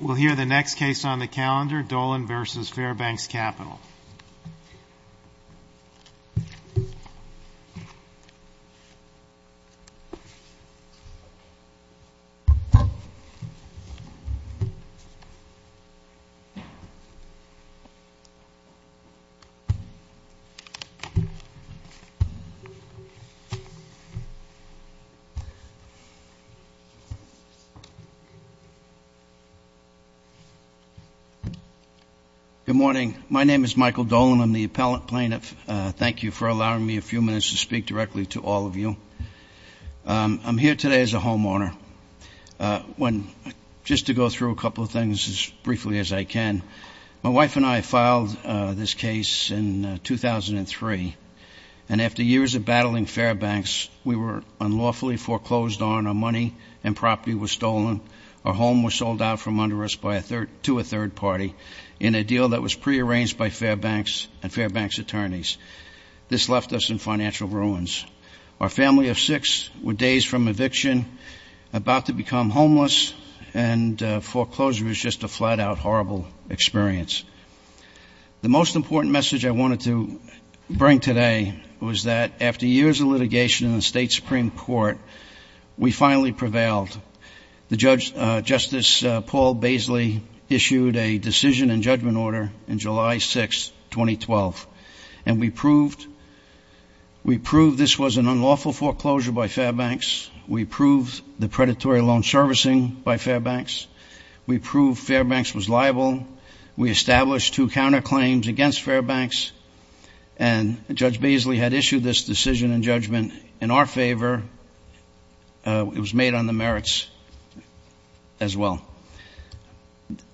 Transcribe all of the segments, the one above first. We'll hear the next case on the calendar, Dolan v. Fairbanks Capital. Good morning. My name is Michael Dolan. I'm the appellate plaintiff. Thank you for allowing me a few minutes to speak directly to all of you. I'm here today as a homeowner. Just to go through a couple of things as briefly as I can. My wife and I filed this case in 2003, and after years of battling Fairbanks, we were unlawfully foreclosed on. Our money and property were stolen. Our home was sold out from under us to a third party in a deal that was prearranged by Fairbanks and Fairbanks attorneys. This left us in financial ruins. Our family of six were days from eviction, about to become homeless, and foreclosure was just a flat-out horrible experience. The most important message I wanted to bring today was that after years of litigation in the State Supreme Court, we finally prevailed. Justice Paul Baisley issued a decision and judgment order on July 6, 2012, and we proved this was an unlawful foreclosure by Fairbanks. We proved the predatory loan servicing by Fairbanks. We proved Fairbanks was liable. We established two counterclaims against Fairbanks, and Judge Baisley had issued this decision and judgment in our favor. It was made on the merits as well.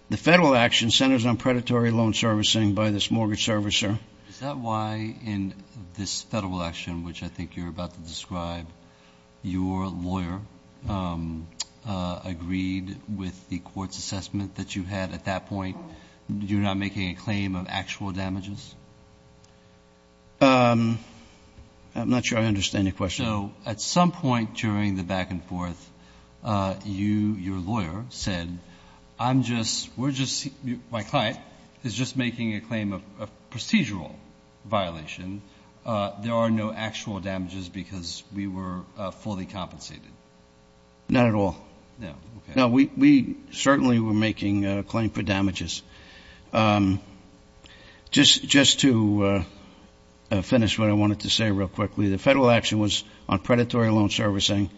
The federal action centers on predatory loan servicing by this mortgage servicer. Is that why in this federal action, which I think you're about to describe, your lawyer agreed with the court's assessment that you had at that point? You're not making a claim of actual damages? I'm not sure I understand your question. So at some point during the back-and-forth, you, your lawyer, said, I'm just, we're just, my client is just making a claim of procedural violation. There are no actual damages because we were fully compensated? Not at all. No, okay. No, we certainly were making a claim for damages. Just to finish what I wanted to say real quickly, the federal action was on predatory loan servicing.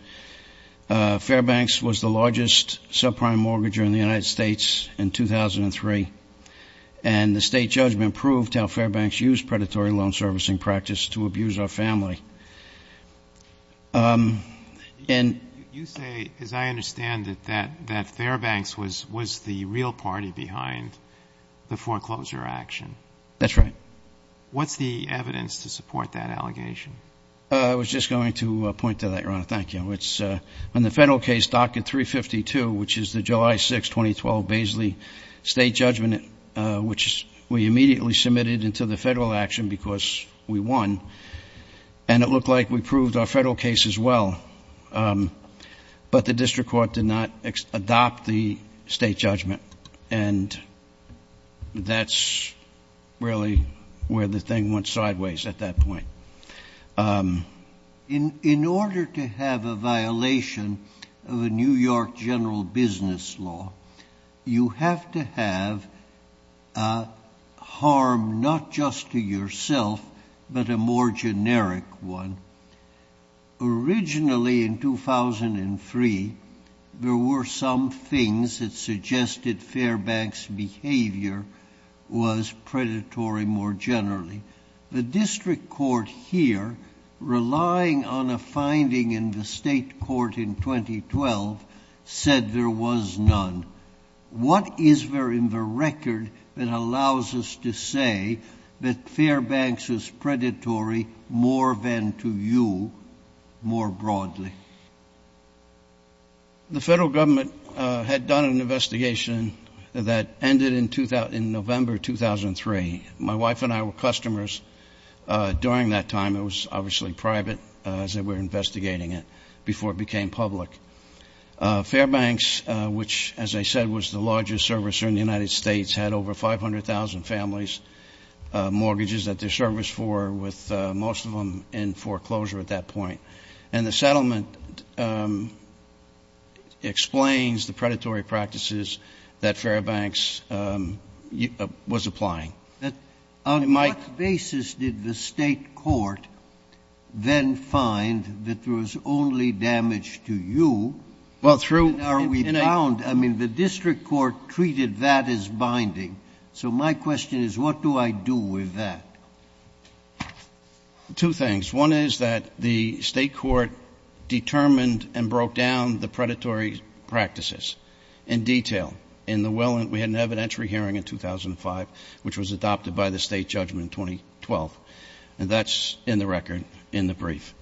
Fairbanks was the largest subprime mortgager in the United States in 2003, and the state judgment proved how Fairbanks used predatory loan servicing practice to abuse our family. You say, as I understand it, that Fairbanks was the real party behind the foreclosure action? That's right. What's the evidence to support that allegation? I was just going to point to that, Your Honor. Thank you. In the federal case, Docket 352, which is the July 6, 2012, Baisley State Judgment, which we immediately submitted into the federal action because we won, and it looked like we proved our federal case as well, but the district court did not adopt the state judgment, and that's really where the thing went sideways at that point. In order to have a violation of a New York general business law, you have to have harm not just to yourself but a more generic one. Originally in 2003, there were some things that suggested Fairbanks' behavior was predatory more generally. The district court here, relying on a finding in the state court in 2012, said there was none. What is there in the record that allows us to say that Fairbanks is predatory more than to you more broadly? The federal government had done an investigation that ended in November 2003. My wife and I were customers during that time. It was obviously private as they were investigating it before it became public. Fairbanks, which, as I said, was the largest servicer in the United States, had over 500,000 families, mortgages that they're serviced for, with most of them in foreclosure at that point. And the settlement explains the predatory practices that Fairbanks was applying. On what basis did the state court then find that there was only damage to you? Well, through ñ I mean, the district court treated that as binding. So my question is, what do I do with that? Two things. One is that the state court determined and broke down the predatory practices in detail. We had an evidentiary hearing in 2005, which was adopted by the state judgment in 2012. And that's in the record in the brief.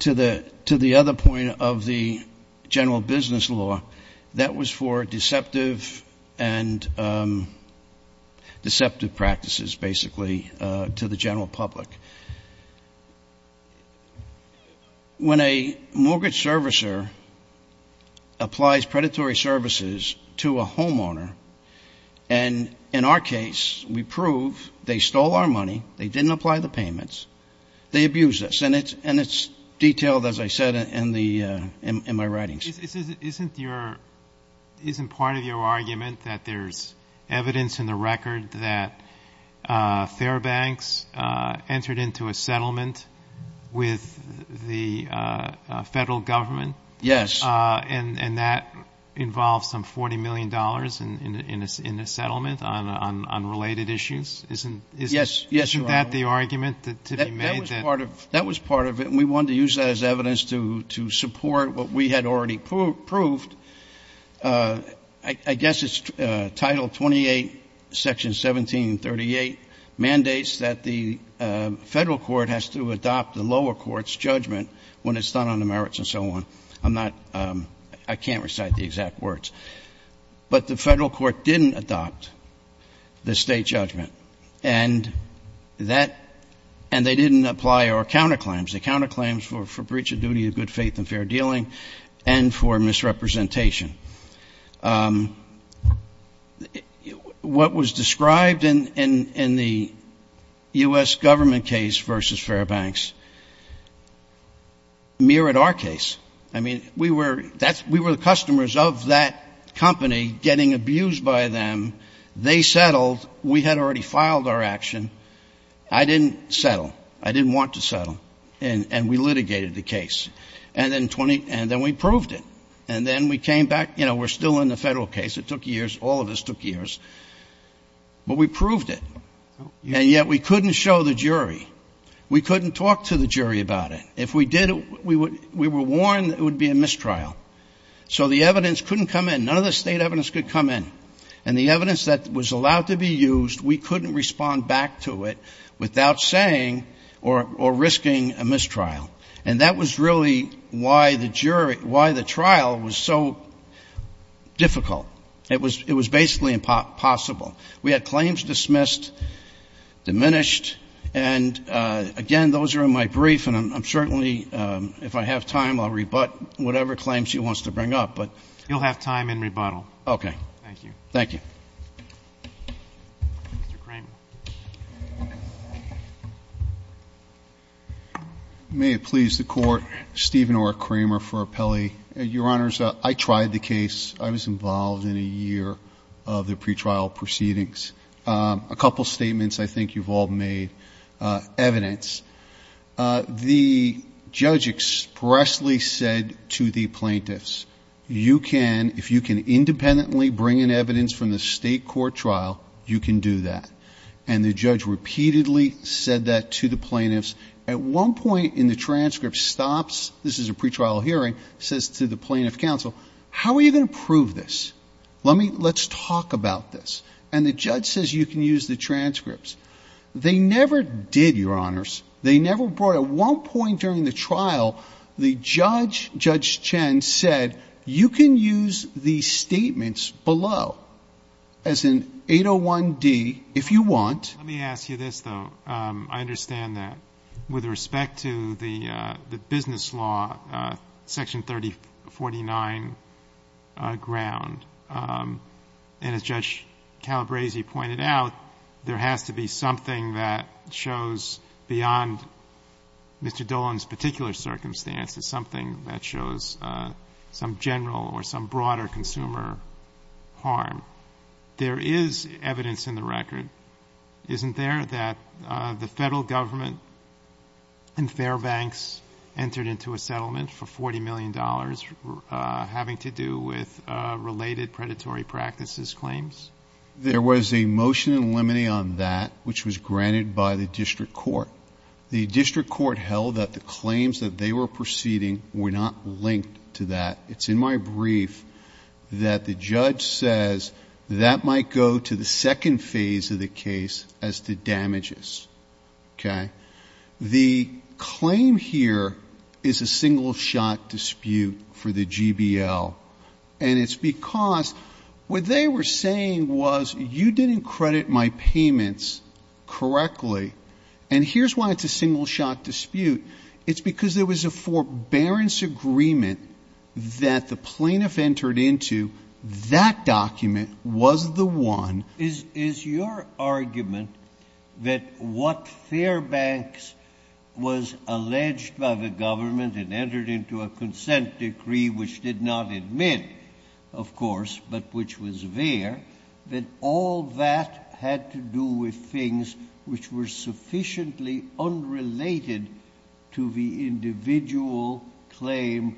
To the other point of the general business law, that was for deceptive practices, basically, to the general public. When a mortgage servicer applies predatory services to a homeowner, and in our case we prove they stole our money, they didn't apply the payments, they abused us. And it's detailed, as I said, in my writings. Isn't part of your argument that there's evidence in the record that Fairbanks entered into a settlement with the federal government? Yes. And that involves some $40 million in a settlement on related issues? Yes. Isn't that the argument to be made? That was part of it, and we wanted to use that as evidence to support what we had already proved. I guess it's Title 28, Section 1738 mandates that the federal court has to adopt the lower court's judgment when it's done on the merits and so on. I can't recite the exact words. But the federal court didn't adopt the state judgment, and they didn't apply our counterclaims, the counterclaims for breach of duty of good faith and fair dealing and for misrepresentation. What was described in the U.S. government case versus Fairbanks mirrored our case. I mean, we were the customers of that company getting abused by them. They settled. We had already filed our action. I didn't settle. I didn't want to settle. And we litigated the case. And then we proved it. And then we came back. You know, we're still in the federal case. It took years. All of us took years. But we proved it. And yet we couldn't show the jury. We couldn't talk to the jury about it. If we did, we were warned it would be a mistrial. So the evidence couldn't come in. None of the state evidence could come in. And the evidence that was allowed to be used, we couldn't respond back to it without saying or risking a mistrial. And that was really why the trial was so difficult. It was basically impossible. We had claims dismissed, diminished. And, again, those are in my brief. And I'm certainly, if I have time, I'll rebut whatever claims he wants to bring up. You'll have time in rebuttal. Okay. Thank you. Mr. Kramer. May it please the Court, Stephen R. Kramer for appellee. Your Honors, I tried the case. I was involved in a year of the pretrial proceedings. A couple statements I think you've all made, evidence. The judge expressly said to the plaintiffs, you can, if you can independently bring in evidence from the state court trial, you can do that. And the judge repeatedly said that to the plaintiffs. At one point in the transcript, stops, this is a pretrial hearing, says to the plaintiff counsel, how are you going to prove this? Let me, let's talk about this. And the judge says you can use the transcripts. They never did, Your Honors. They never brought, at one point during the trial, the judge, Judge Chen, said, you can use the statements below. As in 801D, if you want. Let me ask you this, though. I understand that. With respect to the business law, section 3049 ground, and as Judge Calabresi pointed out, there has to be something that shows beyond Mr. Dolan's particular circumstance, it's something that shows some general or some broader consumer harm. There is evidence in the record, isn't there, that the Federal Government and Fairbanks entered into a settlement for $40 million, having to do with related predatory practices claims? There was a motion in limine on that, which was granted by the district court. The district court held that the claims that they were proceeding were not linked to that. It's in my brief that the judge says that might go to the second phase of the case as to damages. Okay? The claim here is a single-shot dispute for the GBL. And it's because what they were saying was, you didn't credit my payments correctly. And here's why it's a single-shot dispute. It's because there was a forbearance agreement that the plaintiff entered into. That document was the one. Is your argument that what Fairbanks was alleged by the government and entered into a consent decree, which did not admit, of course, but which was there, that all that had to do with things which were sufficiently unrelated to the individual claim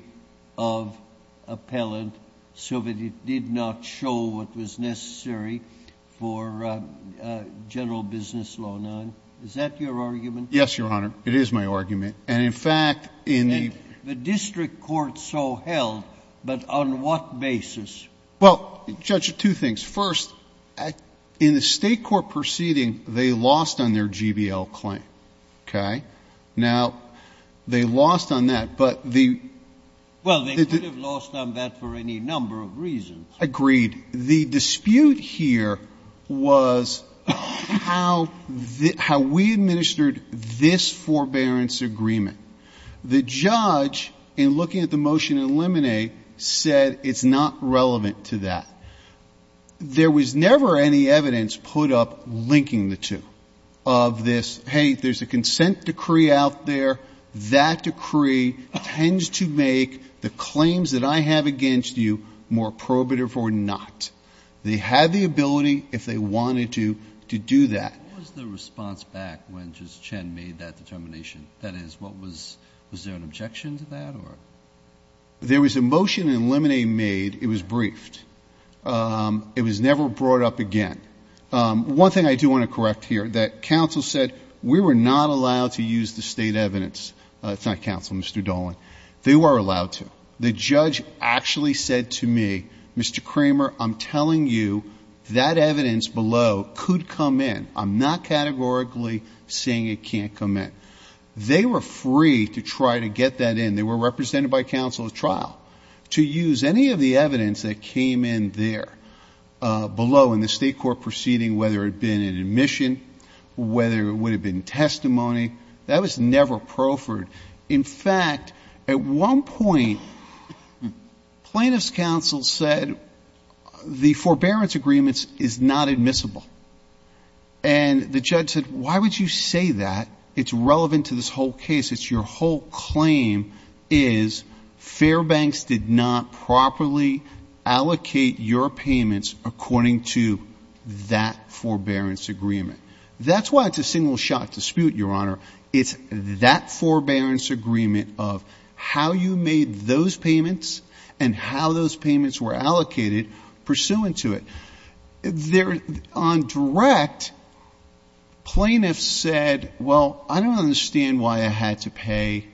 of appellant so that it did not show what was necessary for general business law 9? Is that your argument? It is my argument. And, in fact, in the — And the district court so held, but on what basis? Well, Judge, two things. First, in the state court proceeding, they lost on their GBL claim. Okay? Now, they lost on that, but the — Well, they could have lost on that for any number of reasons. Agreed. And the dispute here was how we administered this forbearance agreement. The judge, in looking at the motion in Lemonet, said it's not relevant to that. There was never any evidence put up linking the two of this, hey, there's a consent decree out there, that decree tends to make the claims that I have against you more prohibitive or not. They had the ability, if they wanted to, to do that. What was the response back when Judge Chen made that determination? That is, what was — was there an objection to that or — There was a motion in Lemonet made. It was briefed. It was never brought up again. One thing I do want to correct here, that counsel said we were not allowed to use the state evidence. It's not counsel, Mr. Dolan. They were allowed to. The judge actually said to me, Mr. Kramer, I'm telling you, that evidence below could come in. I'm not categorically saying it can't come in. They were free to try to get that in. They were represented by counsel at trial to use any of the evidence that came in there, below in the state court proceeding, whether it had been an admission, whether it would have been testimony. That was never proffered. In fact, at one point, plaintiff's counsel said the forbearance agreement is not admissible. And the judge said, why would you say that? It's relevant to this whole case. It's your whole claim is Fairbanks did not properly allocate your payments according to that forbearance agreement. That's why it's a single-shot dispute, Your Honor. It's that forbearance agreement of how you made those payments and how those payments were allocated pursuant to it. On direct, plaintiffs said, well, I don't understand why I had to pay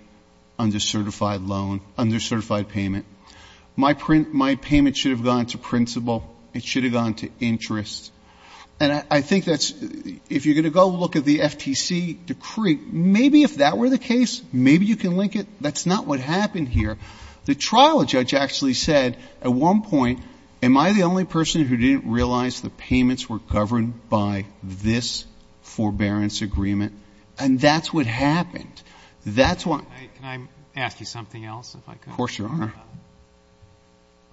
under certified loan, under certified payment. My payment should have gone to principal. It should have gone to interest. And I think that's, if you're going to go look at the FTC decree, maybe if that were the case, maybe you can link it. That's not what happened here. The trial judge actually said at one point, am I the only person who didn't realize the payments were governed by this forbearance agreement? And that's what happened. That's why. Can I ask you something else, if I could? Of course, Your Honor.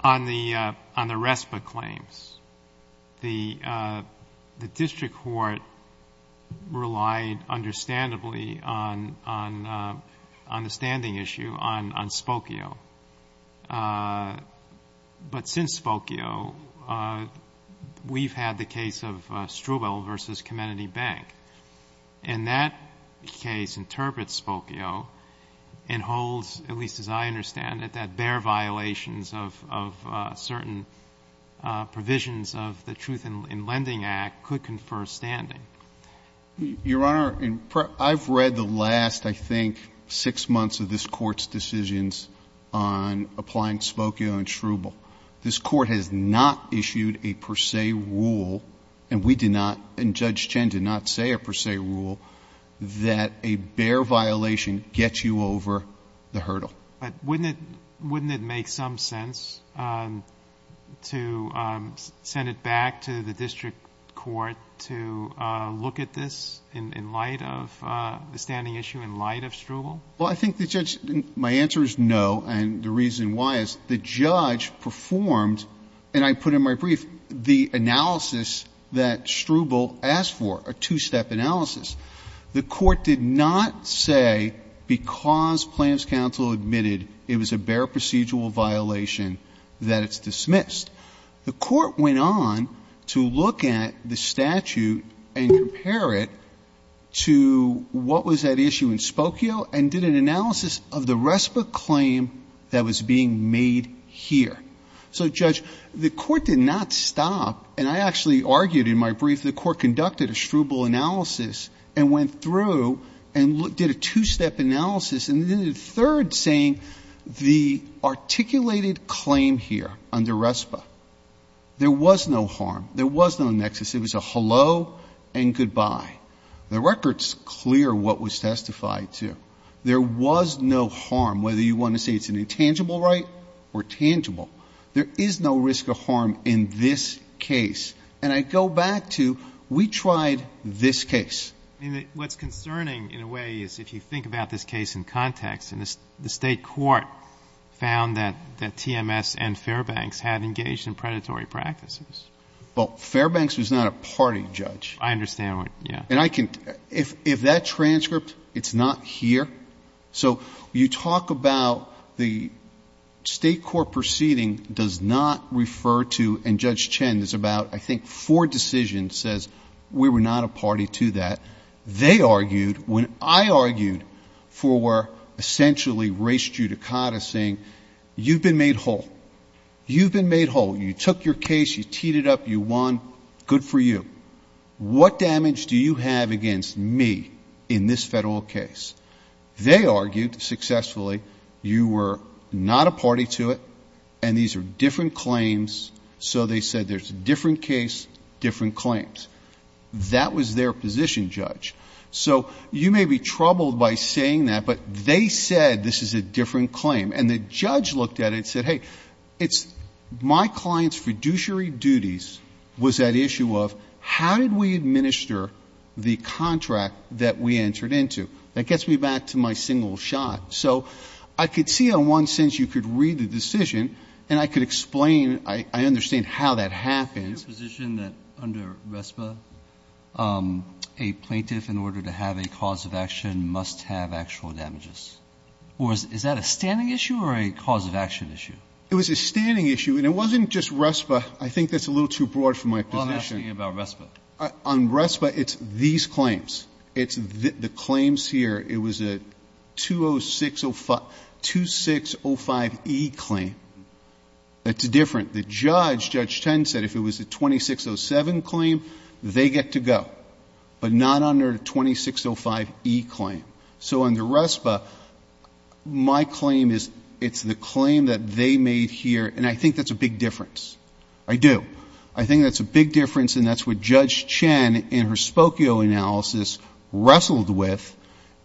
On the RESPA claims, the district court relied understandably on the standing issue on Spokio. But since Spokio, we've had the case of Struble v. Comenity Bank. And that case interprets Spokio and holds, at least as I understand it, that their violations of certain provisions of the Truth in Lending Act could confer standing. Your Honor, I've read the last, I think, six months of this Court's decisions on applying Spokio and Struble. This Court has not issued a per se rule, and we did not, and Judge Chen did not say a per se rule, that a bear violation gets you over the hurdle. But wouldn't it make some sense to send it back to the district court to look at this in light of the standing issue, in light of Struble? Well, I think the judge, my answer is no, and the reason why is the judge performed, and I put in my brief, the analysis that Struble asked for, a two-step analysis. The Court did not say because Plans Council admitted it was a bear procedural violation that it's dismissed. The Court went on to look at the statute and compare it to what was at issue in Spokio and did an analysis of the RESPA claim that was being made here. So, Judge, the Court did not stop, and I actually argued in my brief, the Court conducted a Struble analysis and went through and did a two-step analysis, and did a third saying the articulated claim here under RESPA. There was no harm. There was no nexus. It was a hello and goodbye. The record's clear what was testified to. There was no harm, whether you want to say it's an intangible right or tangible. There is no risk of harm in this case, and I go back to we tried this case. I mean, what's concerning in a way is if you think about this case in context, and the State court found that TMS and Fairbanks had engaged in predatory practices. Well, Fairbanks was not a party judge. I understand. Yeah. And I can ‑‑ if that transcript, it's not here. So you talk about the State court proceeding does not refer to, and Judge Chen is about, I think, four decisions says we were not a party to that. They argued when I argued for essentially race judicata saying you've been made whole. You've been made whole. You took your case. You teed it up. You won. Good for you. What damage do you have against me in this Federal case? They argued successfully you were not a party to it, and these are different claims, so they said there's a different case, different claims. That was their position, Judge. So you may be troubled by saying that, but they said this is a different claim, and the judge looked at it and said, hey, it's my client's fiduciary duties was that issue of how did we administer the contract that we entered into? That gets me back to my single shot. So I could see on one sense you could read the decision, and I could explain, I understand how that happens. Is it your position that under RESPA, a plaintiff, in order to have a cause of action, must have actual damages? Or is that a standing issue or a cause of action issue? It was a standing issue, and it wasn't just RESPA. I think that's a little too broad for my position. I'm asking about RESPA. On RESPA, it's these claims. It's the claims here. It was a 2605E claim. That's different. The judge, Judge Tend, said if it was a 2607 claim, they get to go, but not under a 2605E claim. So under RESPA, my claim is it's the claim that they made here, and I think that's a big difference. I do. I think that's a big difference, and that's what Judge Chen, in her Spokio analysis, wrestled with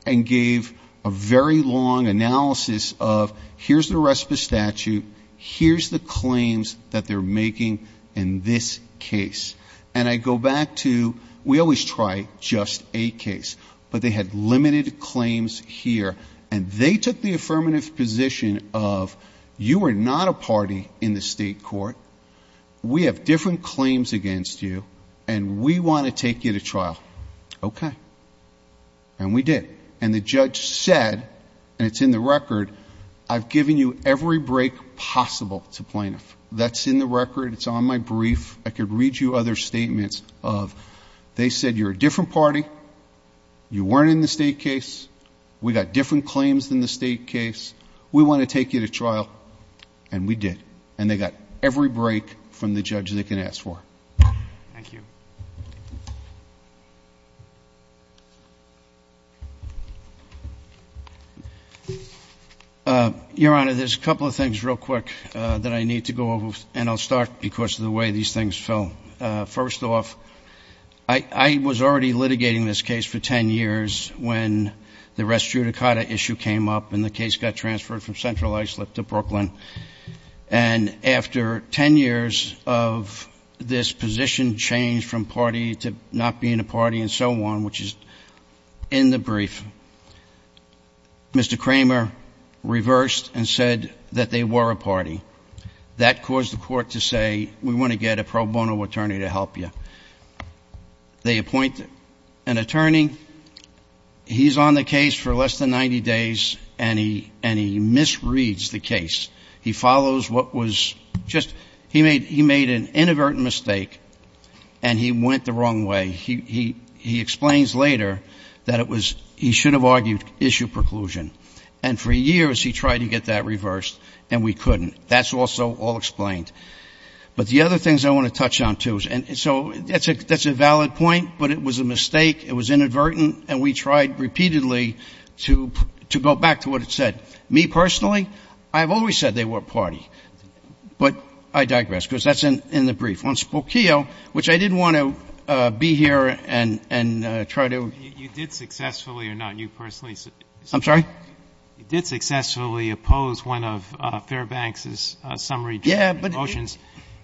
and gave a very long analysis of here's the RESPA statute, here's the claims that they're making in this case. And I go back to we always try just a case. But they had limited claims here, and they took the affirmative position of you are not a party in the state court. We have different claims against you, and we want to take you to trial. Okay. And we did. And the judge said, and it's in the record, I've given you every break possible to plaintiff. That's in the record. It's on my brief. I could read you other statements of they said you're a different party. You weren't in the state case. We got different claims than the state case. We want to take you to trial. And we did. And they got every break from the judge they can ask for. Thank you. Your Honor, there's a couple of things real quick that I need to go over, and I'll start because of the way these things fell. First off, I was already litigating this case for ten years when the rest judicata issue came up and the case got transferred from Central Islip to Brooklyn. And after ten years of this position change from party to not being a party and so on, which is in the brief, Mr. Kramer reversed and said that they were a party. That caused the court to say, we want to get a pro bono attorney to help you. They appoint an attorney. He's on the case for less than 90 days, and he misreads the case. He follows what was just he made an inadvertent mistake, and he went the wrong way. He explains later that it was he should have argued issue preclusion. And for years he tried to get that reversed, and we couldn't. That's also all explained. But the other things I want to touch on, too, and so that's a valid point, but it was a mistake. It was inadvertent, and we tried repeatedly to go back to what it said. Me personally, I have always said they were a party. But I digress, because that's in the brief. Once Spokio, which I didn't want to be here and try to ---- You did successfully or not, you personally ---- I'm sorry? You did successfully oppose one of Fairbanks' summary judgment motions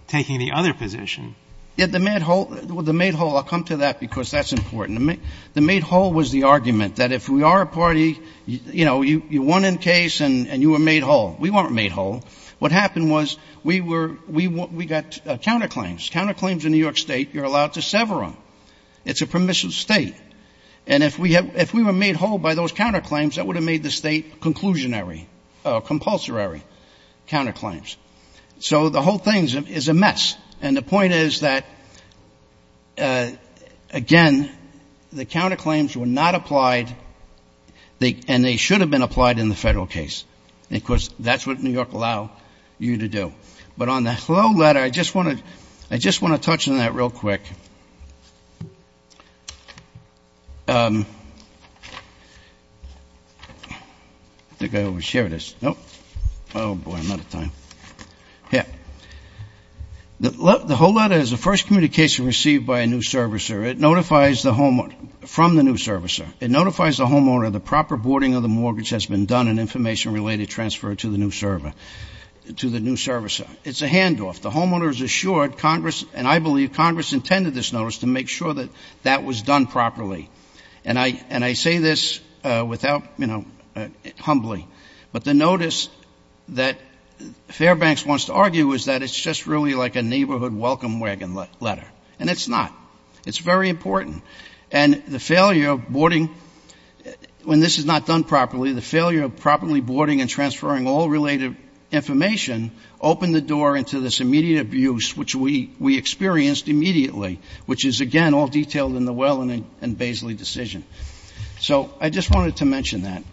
taking the other position. The made whole, I'll come to that, because that's important. The made whole was the argument that if we are a party, you know, you won in case and you were made whole. We weren't made whole. What happened was we were ---- we got counterclaims, counterclaims in New York State. You're allowed to sever them. It's a permissive State. And if we were made whole by those counterclaims, that would have made the State conclusionary, compulsory counterclaims. So the whole thing is a mess. And the point is that, again, the counterclaims were not applied, and they should have been applied in the Federal case. Of course, that's what New York allowed you to do. But on the whole letter, I just want to touch on that real quick. I think I overshared this. Nope. Oh, boy, I'm out of time. Here. The whole letter is the first communication received by a new servicer. It notifies the homeowner from the new servicer. It notifies the homeowner the proper boarding of the mortgage has been done and information related transfer to the new servicer. It's a handoff. And I believe Congress intended this notice to make sure that that was done properly. And I say this without, you know, humbly. But the notice that Fairbanks wants to argue is that it's just really like a neighborhood welcome wagon letter. And it's not. It's very important. And the failure of boarding, when this is not done properly, the failure of properly boarding and transferring all related information opened the door into this immediate abuse, which we experienced immediately, which is, again, all detailed in the Wellen and Baisley decision. So I just wanted to mention that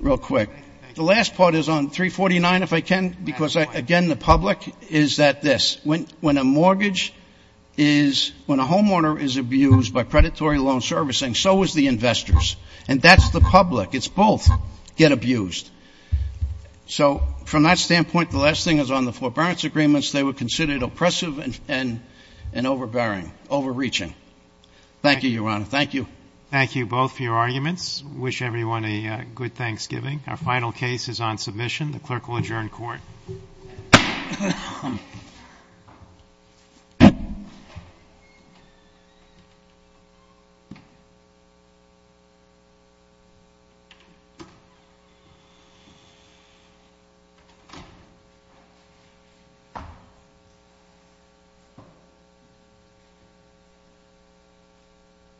real quick. The last part is on 349, if I can, because, again, the public, is that this. When a mortgage is, when a homeowner is abused by predatory loan servicing, so is the investors. And that's the public. It's both get abused. So from that standpoint, the last thing is on the forbearance agreements. They were considered oppressive and overbearing, overreaching. Thank you, Your Honor. Thank you. Thank you both for your arguments. Wish everyone a good Thanksgiving. Our final case is on submission. The clerk will adjourn court.